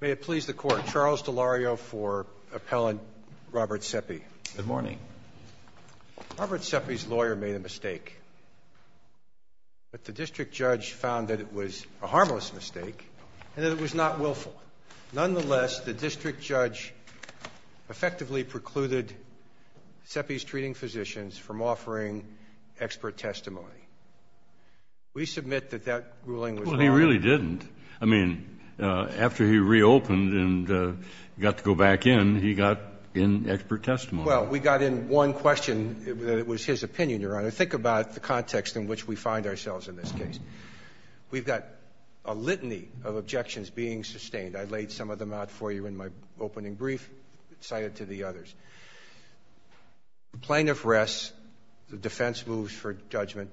May it please the Court, Charles DeLario for Appellant Robert Sepe. Good morning. Robert Sepe's lawyer made a mistake, but the district judge found that it was a harmless mistake and that it was not willful. Nonetheless, the district judge effectively precluded Sepe's treating physicians from offering expert testimony. We submit that that ruling was wrong. Well, he really didn't. I mean, after he reopened and got to go back in, he got in expert testimony. Well, we got in one question that was his opinion, Your Honor. Think about the context in which we find ourselves in this case. We've got a litany of objections being sustained. I laid some of them out for you in my opening brief and cited to the others. Plaintiff rests. The defense moves for judgment.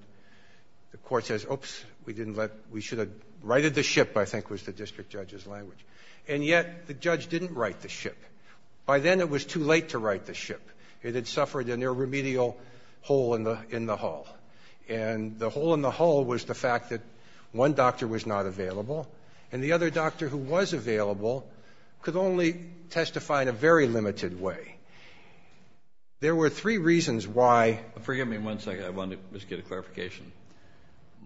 The court says, oops, we should have righted the ship, I think was the district judge's language. And yet the judge didn't right the ship. By then it was too late to right the ship. It had suffered an irremedial hole in the hull. And the hole in the hull was the fact that one doctor was not available, and the other doctor who was available could only testify in a very limited way. There were three reasons why. Forgive me one second. I wanted to just get a clarification.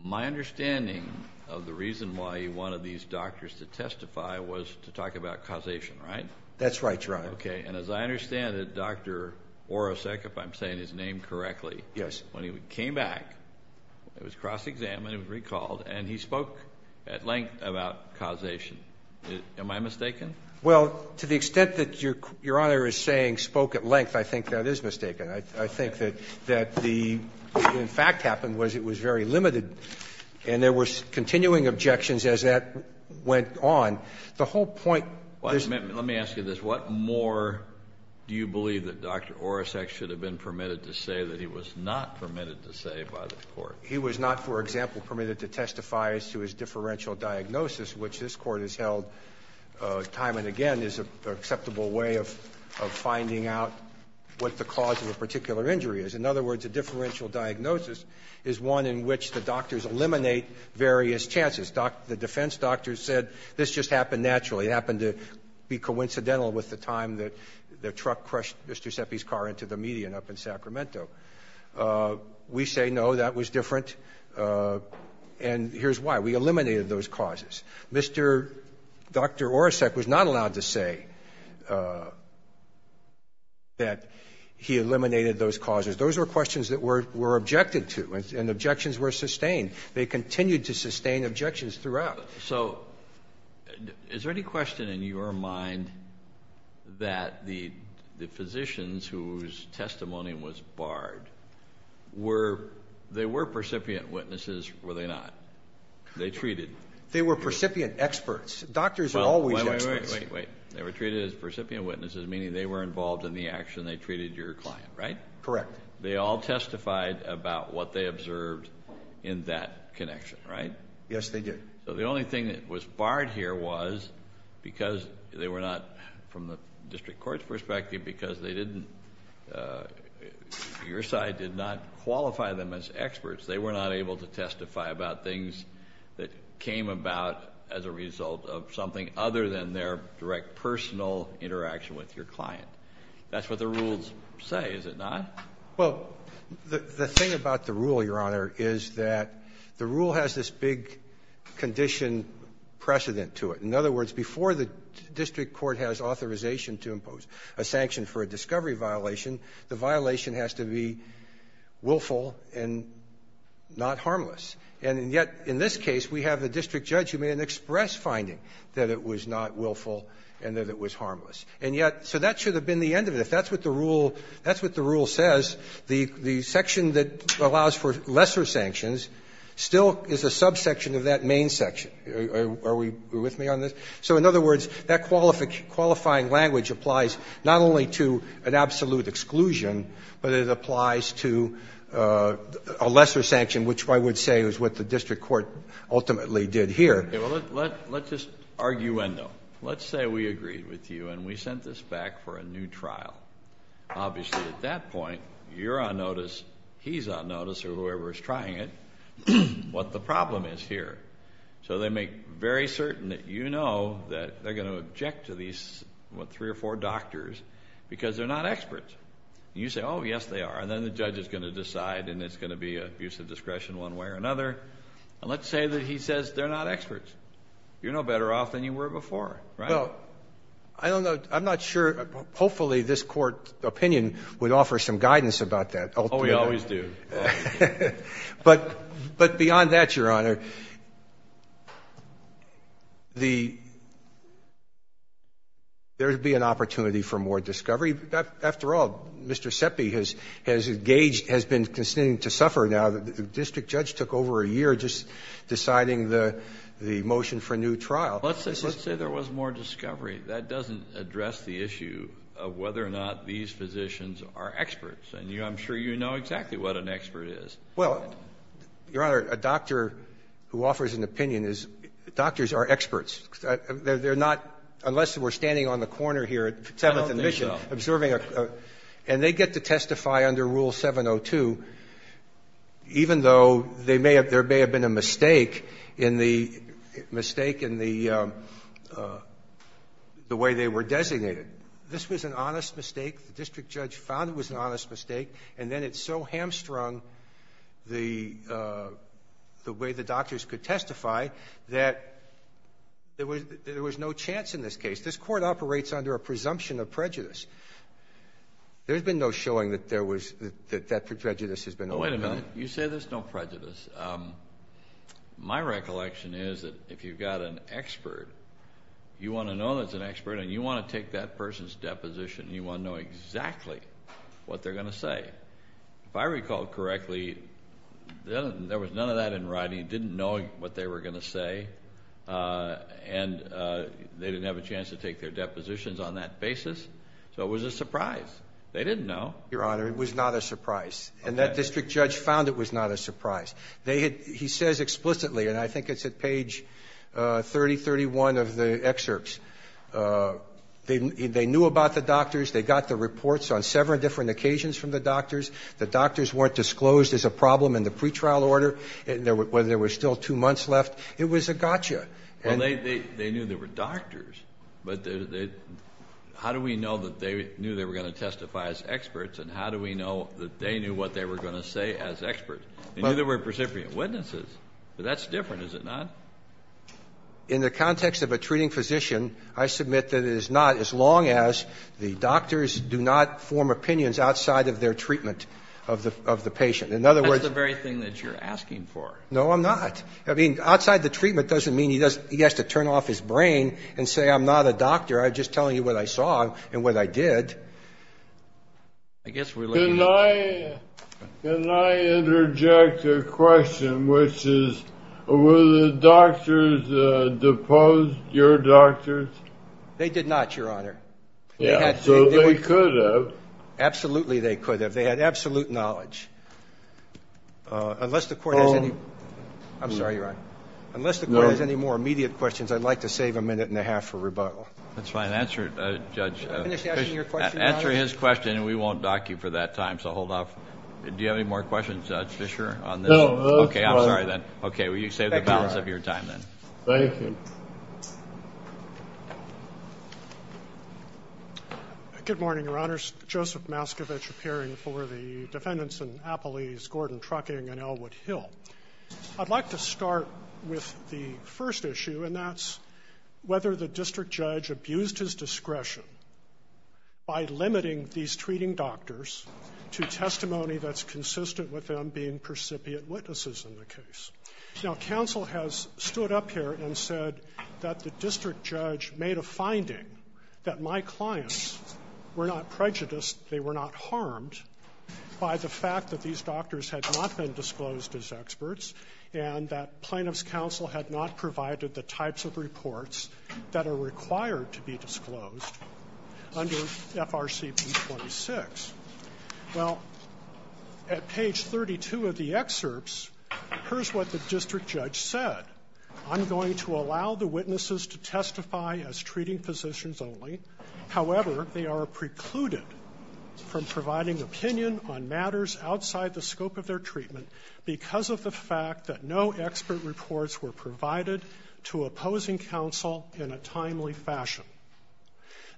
My understanding of the reason why he wanted these doctors to testify was to talk about causation, right? That's right, Your Honor. Okay. And as I understand it, Dr. Orosek, if I'm saying his name correctly, when he came back, it was cross-examined, it was recalled, and he spoke at length about causation. Am I mistaken? Well, to the extent that Your Honor is saying spoke at length, I think that is mistaken. I think that what, in fact, happened was it was very limited, and there were continuing objections as that went on. The whole point of this ---- Let me ask you this. What more do you believe that Dr. Orosek should have been permitted to say that he was not permitted to say by the Court? He was not, for example, permitted to testify as to his differential diagnosis, which this Court has held time and again is an acceptable way of finding out what the cause of a particular injury is. In other words, a differential diagnosis is one in which the doctors eliminate various chances. The defense doctors said this just happened naturally. It happened to be coincidental with the time that the truck crushed Mr. Seppi's car into the median up in Sacramento. We say, no, that was different, and here's why. We eliminated those causes. Dr. Orosek was not allowed to say that he eliminated those causes. Those were questions that were objected to, and objections were sustained. They continued to sustain objections throughout. So is there any question in your mind that the physicians whose testimony was barred were ---- Percipient witnesses, were they not? They treated. They were percipient experts. Doctors are always experts. Wait, wait, wait. They were treated as percipient witnesses, meaning they were involved in the action. They treated your client, right? Correct. They all testified about what they observed in that connection, right? Yes, they did. Your side did not qualify them as experts. They were not able to testify about things that came about as a result of something other than their direct personal interaction with your client. That's what the rules say, is it not? Well, the thing about the rule, Your Honor, is that the rule has this big condition precedent to it. In other words, before the district court has authorization to impose a sanction for a discovery violation, the violation has to be willful and not harmless. And yet, in this case, we have the district judge who made an express finding that it was not willful and that it was harmless. And yet, so that should have been the end of it. If that's what the rule says, the section that allows for lesser sanctions still is a subsection of that main section. Are we with me on this? So, in other words, that qualifying language applies not only to an absolute exclusion, but it applies to a lesser sanction, which I would say is what the district court ultimately did here. Well, let's just arguendo. Let's say we agreed with you and we sent this back for a new trial. Obviously, at that point, you're on notice, he's on notice, or whoever is trying it, what the problem is here. So they make very certain that you know that they're going to object to these, what, three or four doctors because they're not experts. And you say, oh, yes, they are. And then the judge is going to decide and it's going to be an abuse of discretion one way or another. And let's say that he says they're not experts. You're no better off than you were before, right? Well, I don't know. I'm not sure. Hopefully, this Court opinion would offer some guidance about that. Oh, we always do. But beyond that, Your Honor, there would be an opportunity for more discovery. After all, Mr. Seppi has engaged, has been continuing to suffer now. The district judge took over a year just deciding the motion for a new trial. Let's say there was more discovery. That doesn't address the issue of whether or not these physicians are experts. And I'm sure you know exactly what an expert is. Well, Your Honor, a doctor who offers an opinion is, doctors are experts. They're not, unless we're standing on the corner here at Seventh and Mission. I don't think so. And they get to testify under Rule 702 even though there may have been a mistake in the way they were designated. This was an honest mistake. The district judge found it was an honest mistake, and then it so hamstrung the way the doctors could testify that there was no chance in this case. This Court operates under a presumption of prejudice. There's been no showing that that prejudice has been overcome. Wait a minute. You say there's no prejudice. My recollection is that if you've got an expert, you want to know that it's an expert, and you want to take that person's deposition, you want to know exactly what they're going to say. If I recall correctly, there was none of that in writing. You didn't know what they were going to say, and they didn't have a chance to take their depositions on that basis. So it was a surprise. They didn't know. Your Honor, it was not a surprise. And that district judge found it was not a surprise. He says explicitly, and I think it's at page 3031 of the excerpts, they knew about the doctors. They got the reports on several different occasions from the doctors. The doctors weren't disclosed as a problem in the pretrial order. There were still two months left. It was a gotcha. Well, they knew there were doctors, but how do we know that they knew they were going to testify as experts, and how do we know that they knew what they were going to say as experts? They knew there were precipient witnesses, but that's different, is it not? In the context of a treating physician, I submit that it is not, as long as the doctors do not form opinions outside of their treatment of the patient. That's the very thing that you're asking for. No, I'm not. I mean, outside the treatment doesn't mean he has to turn off his brain and say, I'm not a doctor, I'm just telling you what I saw and what I did. Can I interject a question, which is, were the doctors deposed, your doctors? They did not, Your Honor. So they could have. Absolutely they could have. They had absolute knowledge. Unless the court has any more immediate questions, I'd like to save a minute and a half for rebuttal. That's fine. Answer his question, and we won't dock you for that time, so hold off. Do you have any more questions, Judge Fischer? No, that's fine. Okay, I'm sorry then. Okay, well, you saved the balance of your time then. Thank you. Good morning, Your Honors. Joseph Maskevich, appearing for the defendants in Appalese, Gordon Trucking, and Elwood Hill. I'd like to start with the first issue, and that's whether the district judge abused his discretion by limiting these treating doctors to testimony that's consistent with them being precipiate witnesses in the case. Now, counsel has stood up here and said that the district judge made a finding that my clients were not prejudiced, they were not harmed by the fact that these doctors had not been disclosed as experts and that plaintiff's counsel had not provided the types of reports that are required to be disclosed under FRC B-26. Well, at page 32 of the excerpts, here's what the district judge said. I'm going to allow the witnesses to testify as treating physicians only. However, they are precluded from providing opinion on matters outside the scope of their treatment because of the fact that no expert reports were provided to opposing counsel in a timely fashion.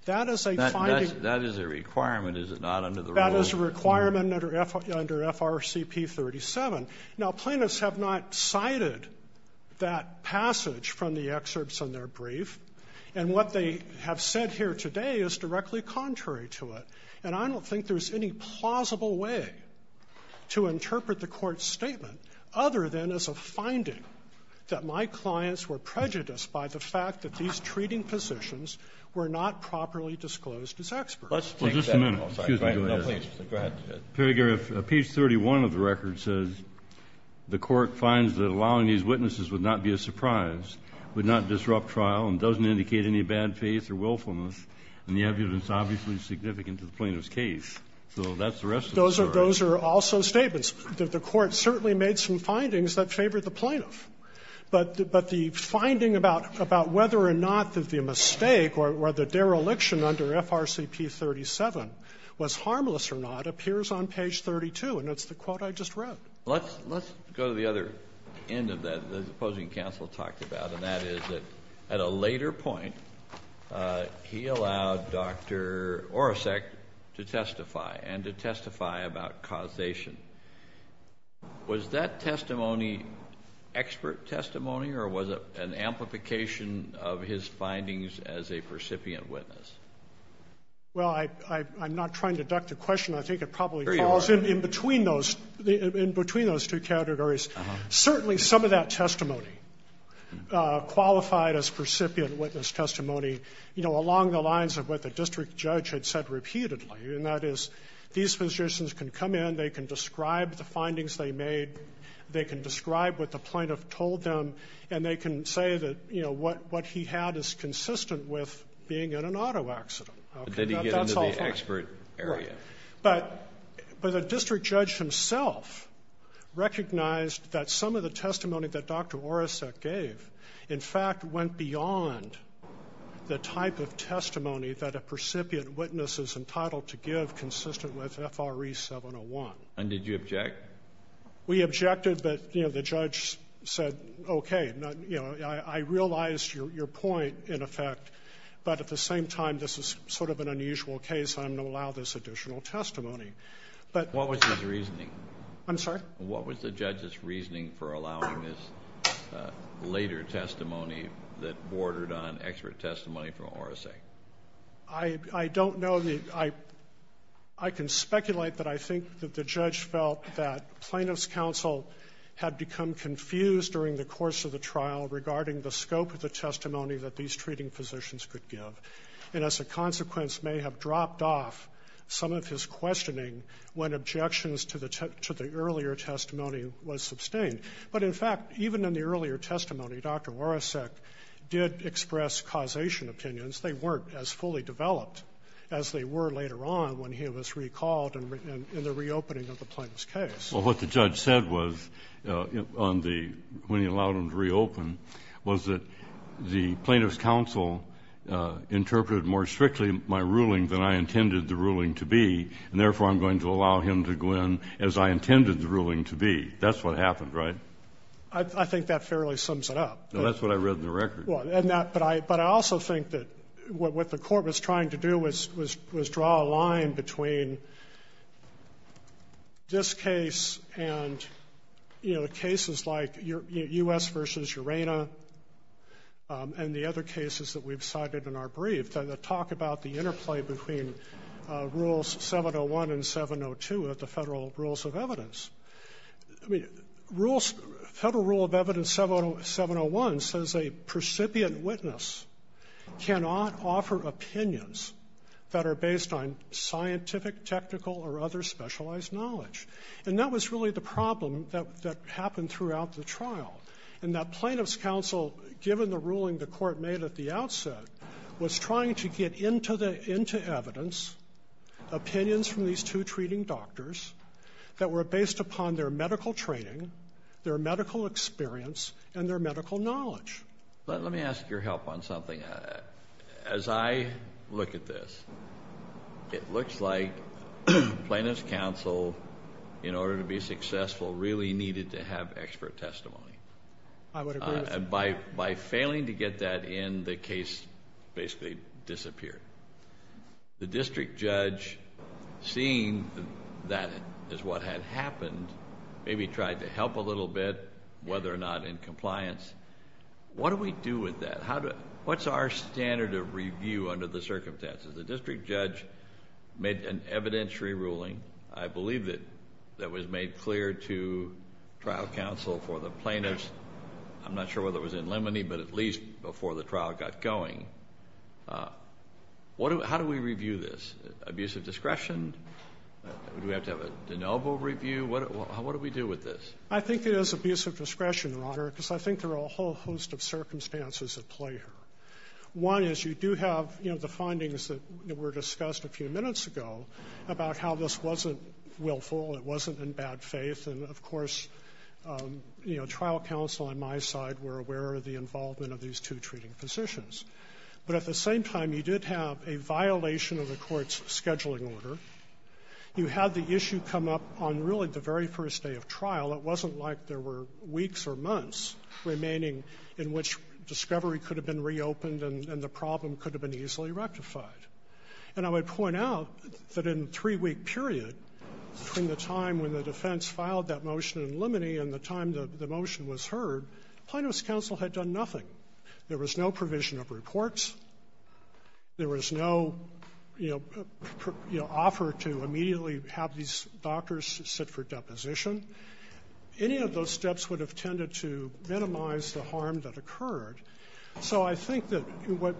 That is a finding. That is a requirement, is it not, under the rule? That is a requirement under FRC B-37. Now, plaintiffs have not cited that passage from the excerpts in their brief, and what they have said here today is directly contrary to it, and I don't think there's any plausible way to interpret the Court's statement other than as a finding that my clients were prejudiced by the fact that these treating physicians were not properly disclosed as experts. Let's take that one. Well, just a minute. Excuse me. Go ahead. Page 31 of the record says the Court finds that allowing these witnesses would not be a surprise, would not disrupt trial, and doesn't indicate any bad faith or willfulness. And the evidence is obviously significant to the plaintiff's case. So that's the rest of the story. Those are also statements. The Court certainly made some findings that favored the plaintiff. But the finding about whether or not the mistake or the dereliction under FRC B-37 was harmless or not appears on page 32, and it's the quote I just wrote. Let's go to the other end of that that the opposing counsel talked about, and that is that at a later point he allowed Dr. Orosek to testify and to testify about causation. Was that testimony expert testimony, or was it an amplification of his findings as a recipient witness? Well, I'm not trying to duck the question. I think it probably falls in between those two categories. Certainly some of that testimony qualified as recipient witness testimony, you know, along the lines of what the district judge had said repeatedly, and that is these physicians can come in, they can describe the findings they made, they can describe what the plaintiff told them, and they can say that, you know, what he had is consistent with being in an auto accident. Did he get into the expert area? But the district judge himself recognized that some of the testimony that Dr. Orosek gave, in fact, went beyond the type of testimony that a recipient witness is entitled to give consistent with FRC 701. And did you object? We objected, but, you know, the judge said, okay, you know, I realize your point, in effect, but at the same time this is sort of an unusual case and I'm going to allow this additional testimony. What was his reasoning? I'm sorry? What was the judge's reasoning for allowing this later testimony that bordered on expert testimony from Orosek? I don't know. I can speculate that I think that the judge felt that plaintiff's counsel had become confused during the course of the trial regarding the scope of the testimony that these treating physicians could give, and as a consequence may have dropped off some of his questioning when objections to the earlier testimony was sustained. But, in fact, even in the earlier testimony, Dr. Orosek did express causation opinions. They weren't as fully developed as they were later on when he was recalled in the reopening of the plaintiff's case. Well, what the judge said was, when he allowed him to reopen, was that the plaintiff's counsel interpreted more strictly my ruling than I intended the ruling to be, and therefore I'm going to allow him to go in as I intended the ruling to be. That's what happened, right? I think that fairly sums it up. That's what I read in the record. Well, but I also think that what the court was trying to do was draw a line between this case and cases like U.S. v. Urena and the other cases that we've cited in our brief that talk about the interplay between Rules 701 and 702 of the Federal Rules of Evidence. Federal Rule of Evidence 701 says a precipient witness cannot offer opinions that are based on scientific, technical, or other specialized knowledge. And that was really the problem that happened throughout the trial, and that plaintiff's counsel, given the ruling the court made at the outset, was trying to get into evidence opinions from these two treating doctors that were based upon their medical training, their medical experience, and their medical knowledge. Let me ask your help on something. As I look at this, it looks like plaintiff's counsel, in order to be successful, really needed to have expert testimony. I would agree with you. By failing to get that in, the case basically disappeared. The district judge, seeing that is what had happened, maybe tried to help a little bit, whether or not in compliance. What do we do with that? What's our standard of review under the circumstances? The district judge made an evidentiary ruling, I believe, that was made clear to trial counsel for the plaintiffs. I'm not sure whether it was in limine, but at least before the trial got going. How do we review this? Abusive discretion? Do we have to have a de novo review? What do we do with this? I think it is abusive discretion, Your Honor, because I think there are a whole host of circumstances at play here. One is you do have the findings that were discussed a few minutes ago about how this wasn't willful, it wasn't in bad faith, and, of course, trial counsel on my side were aware of the involvement of these two treating physicians. But at the same time, you did have a violation of the court's scheduling order. You had the issue come up on really the very first day of trial. It wasn't like there were weeks or months remaining in which discovery could have been reopened and the problem could have been easily rectified. And I would point out that in a three-week period, between the time when the defense filed that motion in limine and the time the motion was heard, Plano's counsel had done nothing. There was no provision of reports. There was no, you know, offer to immediately have these doctors sit for deposition. Any of those steps would have tended to minimize the harm that occurred. So I think that what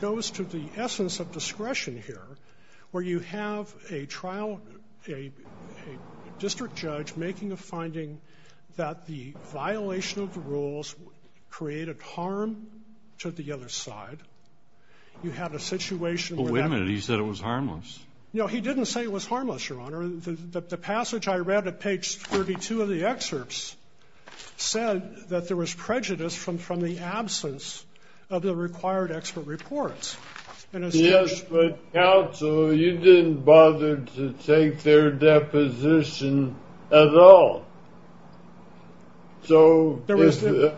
goes to the essence of discretion here, where you have a trial a district judge making a finding that the violation of the rules created harm to the other side, you have a situation where that... Wait a minute. He said it was harmless. No, he didn't say it was harmless, Your Honor. The passage I read at page 32 of the excerpts said that there was prejudice from the absence of the required expert reports. Yes, but counsel, you didn't bother to take their deposition at all. So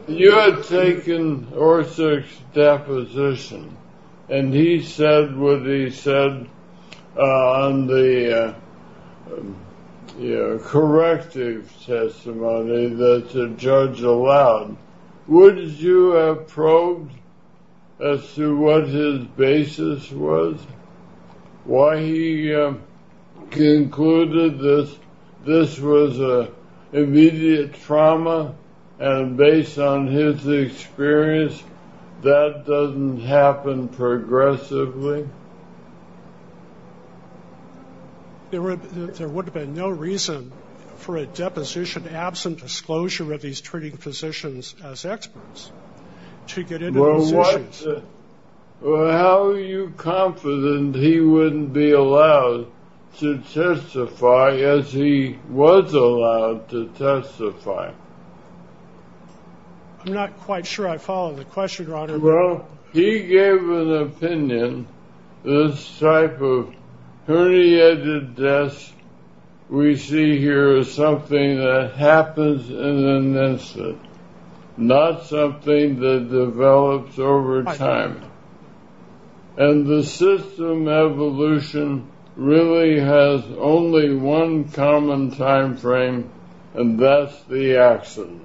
you had taken Orsak's deposition, and he said what he said on the corrective testimony that the judge allowed. Would you have probed as to what his basis was? Why he concluded that this was an immediate trauma, and based on his experience, that doesn't happen progressively? There would have been no reason for a deposition absent disclosure of these treating physicians as experts to get into these issues. How are you confident he wouldn't be allowed to testify as he was allowed to testify? I'm not quite sure I follow the question, Your Honor. Well, he gave an opinion. This type of herniated disc we see here is something that happens in an instant, not something that develops over time. And the system evolution really has only one common time frame, and that's the accident.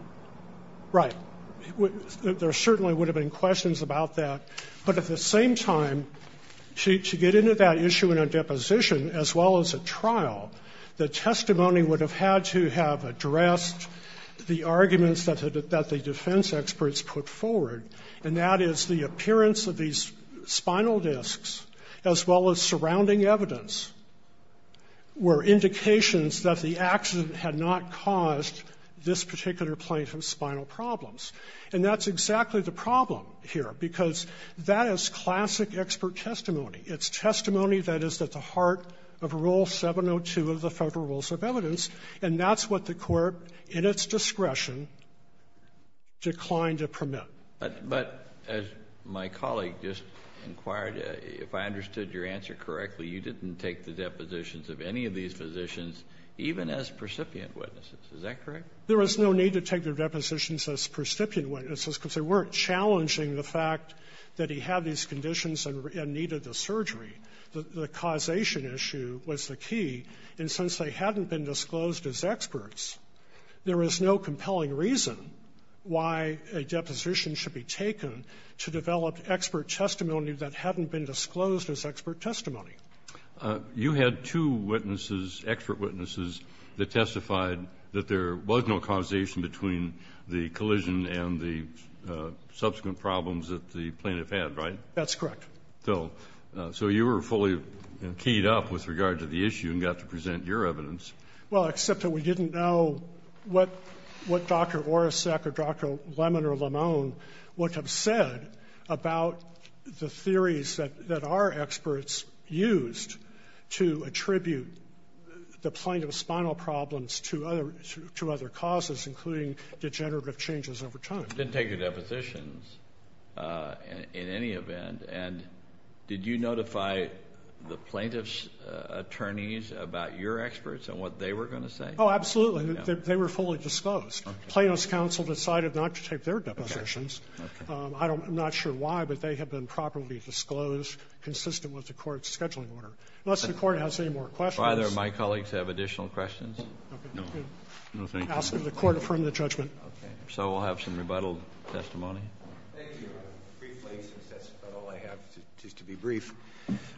Right. There certainly would have been questions about that. But at the same time, to get into that issue in a deposition as well as a trial, the testimony would have had to have addressed the arguments that the defense experts put forward, and that is the appearance of these spinal discs, as well as surrounding evidence, were indications that the accident had not caused this particular plane of spinal problems. And that's exactly the problem here, because that is classic expert testimony. It's testimony that is at the heart of Rule 702 of the Federal Rules of Evidence, and that's what the Court, in its discretion, declined to permit. But as my colleague just inquired, if I understood your answer correctly, you didn't take the depositions of any of these physicians even as precipient witnesses. Is that correct? There was no need to take their depositions as precipient witnesses, because they weren't challenging the fact that he had these conditions and needed the surgery. The causation issue was the key. And since they hadn't been disclosed as experts, there was no compelling reason why a deposition should be taken to develop expert testimony that hadn't been disclosed as expert testimony. You had two witnesses, expert witnesses, that testified that there was no causation between the collision and the subsequent problems that the plaintiff had, right? That's correct. So you were fully keyed up with regard to the issue and got to present your evidence. Well, except that we didn't know what Dr. Oracek or Dr. Lemon or Lamone would have said about the theories that our experts used to attribute the plaintiff's spinal problems to other causes, including degenerative changes over time. You didn't take their depositions in any event. And did you notify the plaintiff's attorneys about your experts and what they were going to say? Oh, absolutely. They were fully disclosed. Plaintiff's counsel decided not to take their depositions. I'm not sure why, but they have been properly disclosed, consistent with the court's scheduling order. Unless the court has any more questions. Do either of my colleagues have additional questions? No. No, thank you. I ask that the court affirm the judgment. Okay. So we'll have some rebuttal testimony. Thank you. Briefly, since that's about all I have, just to be brief.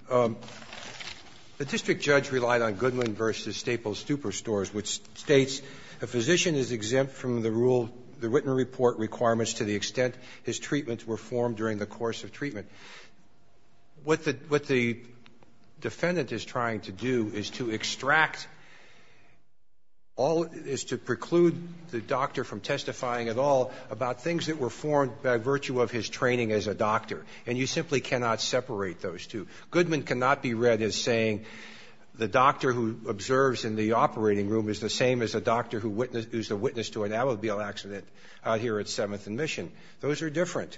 The district judge relied on Goodman v. Staples-Stupor stores, which states, a physician is exempt from the rule, the written report requirements, to the extent his treatments were formed during the course of treatment. What the defendant is trying to do is to extract all, is to preclude the doctor from testifying at all about things that were formed by virtue of his training as a doctor. And you simply cannot separate those two. Goodman cannot be read as saying, the doctor who observes in the operating room is the same as a doctor who is the witness to an automobile accident out here at 7th and Mission. Those are different.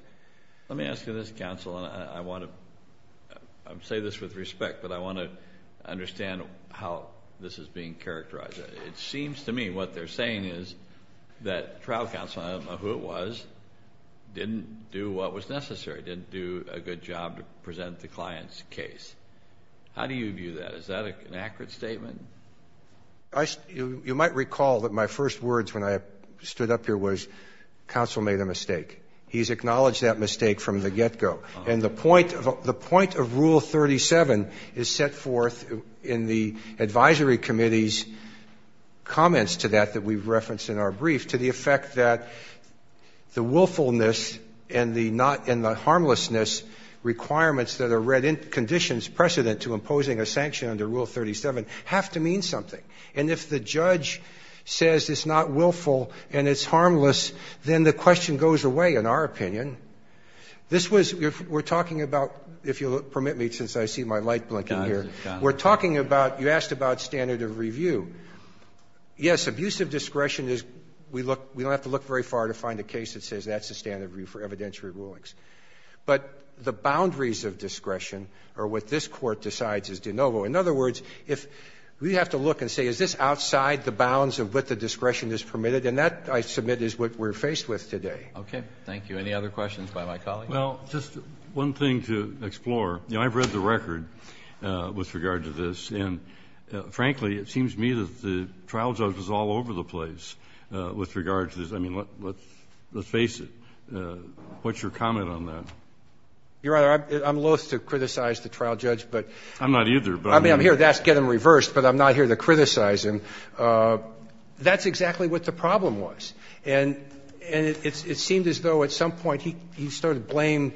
Let me ask you this, counsel, and I want to say this with respect, but I want to understand how this is being characterized. It seems to me what they're saying is that trial counsel, I don't know who it was, didn't do what was necessary, didn't do a good job to present the client's case. How do you view that? Is that an accurate statement? You might recall that my first words when I stood up here was, counsel made a mistake. He's acknowledged that mistake from the get-go. And the point of rule 37 is set forth in the advisory committee's comments to that that we've referenced in our brief to the effect that the willfulness and the harmlessness requirements that are read in conditions precedent to imposing a sanction under rule 37 have to mean something. And if the judge says it's not willful and it's harmless, then the question goes away, in our opinion. This was we're talking about, if you'll permit me, since I see my light blinking here, we're talking about, you asked about standard of review. Yes, abusive discretion is, we don't have to look very far to find a case that says that's the standard of review for evidentiary rulings. But the boundaries of discretion are what this Court decides is de novo. In other words, if we have to look and say is this outside the bounds of what the we're faced with today. Roberts. Okay. Thank you. Any other questions by my colleagues? Well, just one thing to explore. You know, I've read the record with regard to this. And, frankly, it seems to me that the trial judge was all over the place with regard to this. I mean, let's face it. What's your comment on that? Your Honor, I'm loath to criticize the trial judge, but I'm here to get him reversed, but I'm not here to criticize him. That's exactly what the problem was. And it seemed as though at some point he started to blame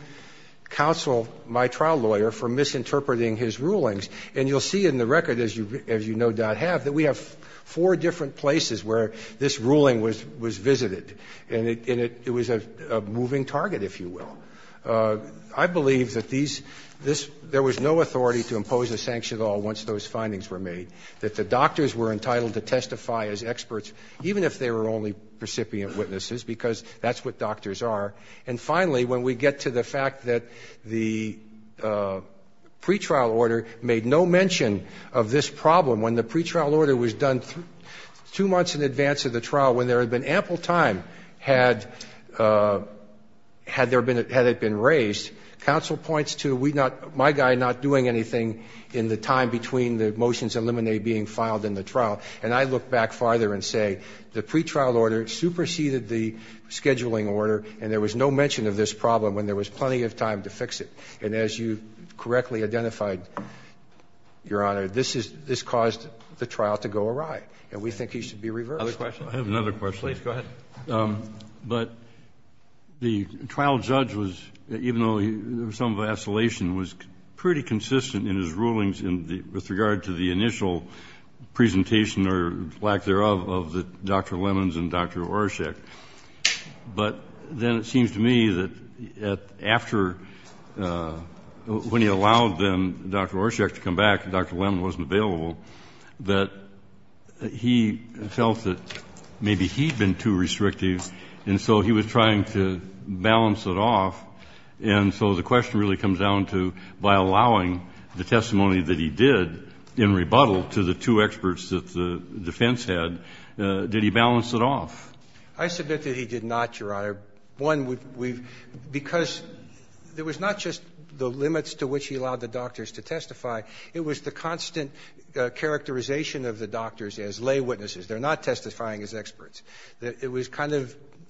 counsel, my trial lawyer, for misinterpreting his rulings. And you'll see in the record, as you no doubt have, that we have four different places where this ruling was visited, and it was a moving target, if you will. I believe that there was no authority to impose a sanction at all once those findings were made, that the doctors were entitled to testify as experts, even if they were only precipient witnesses, because that's what doctors are. And, finally, when we get to the fact that the pretrial order made no mention of this problem, when the pretrial order was done two months in advance of the trial, when there had been ample time had there been ‑‑ had it been raised, counsel points to my guy not doing anything in the time between the motions and limine being filed in the trial. And I look back farther and say the pretrial order superseded the scheduling order, and there was no mention of this problem when there was plenty of time to fix it. And as you correctly identified, Your Honor, this is ‑‑ this caused the trial to go awry, and we think he should be reversed. Roberts. I have another question. Please, go ahead. But the trial judge was, even though there was some vacillation, was pretty consistent in his rulings with regard to the initial presentation, or lack thereof, of Dr. Lemons and Dr. Orszag. But then it seems to me that after ‑‑ when he allowed Dr. Orszag to come back, Dr. Lemons wasn't available, that he felt that maybe he had been too restrictive, and so he was trying to balance it off. And so the question really comes down to, by allowing the testimony that he did in rebuttal to the two experts that the defense had, did he balance it off? I submit that he did not, Your Honor. One, because there was not just the limits to which he allowed the doctors to testify, it was the constant characterization of the doctors as lay witnesses. They're not testifying as experts. It was kind of diminished.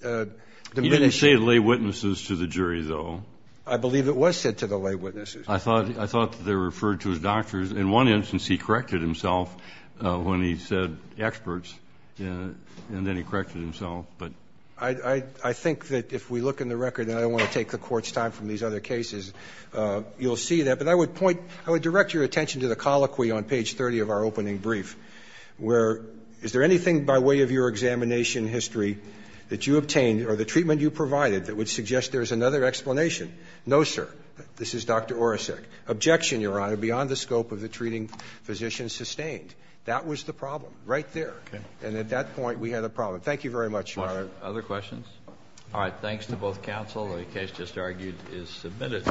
I didn't say lay witnesses to the jury, though. I believe it was said to the lay witnesses. I thought they were referred to as doctors. In one instance, he corrected himself when he said experts, and then he corrected himself. I think that if we look in the record, and I don't want to take the Court's time from these other cases, you'll see that. But I would point ‑‑ I would direct your attention to the colloquy on page 30 of our opening brief, where, is there anything by way of your examination history that you provided that would suggest there's another explanation? No, sir. This is Dr. Oracek. Objection, Your Honor, beyond the scope of the treating physician sustained. That was the problem right there. And at that point, we had a problem. Thank you very much, Your Honor. Other questions? All right. Thanks to both counsel. The case just argued is submitted.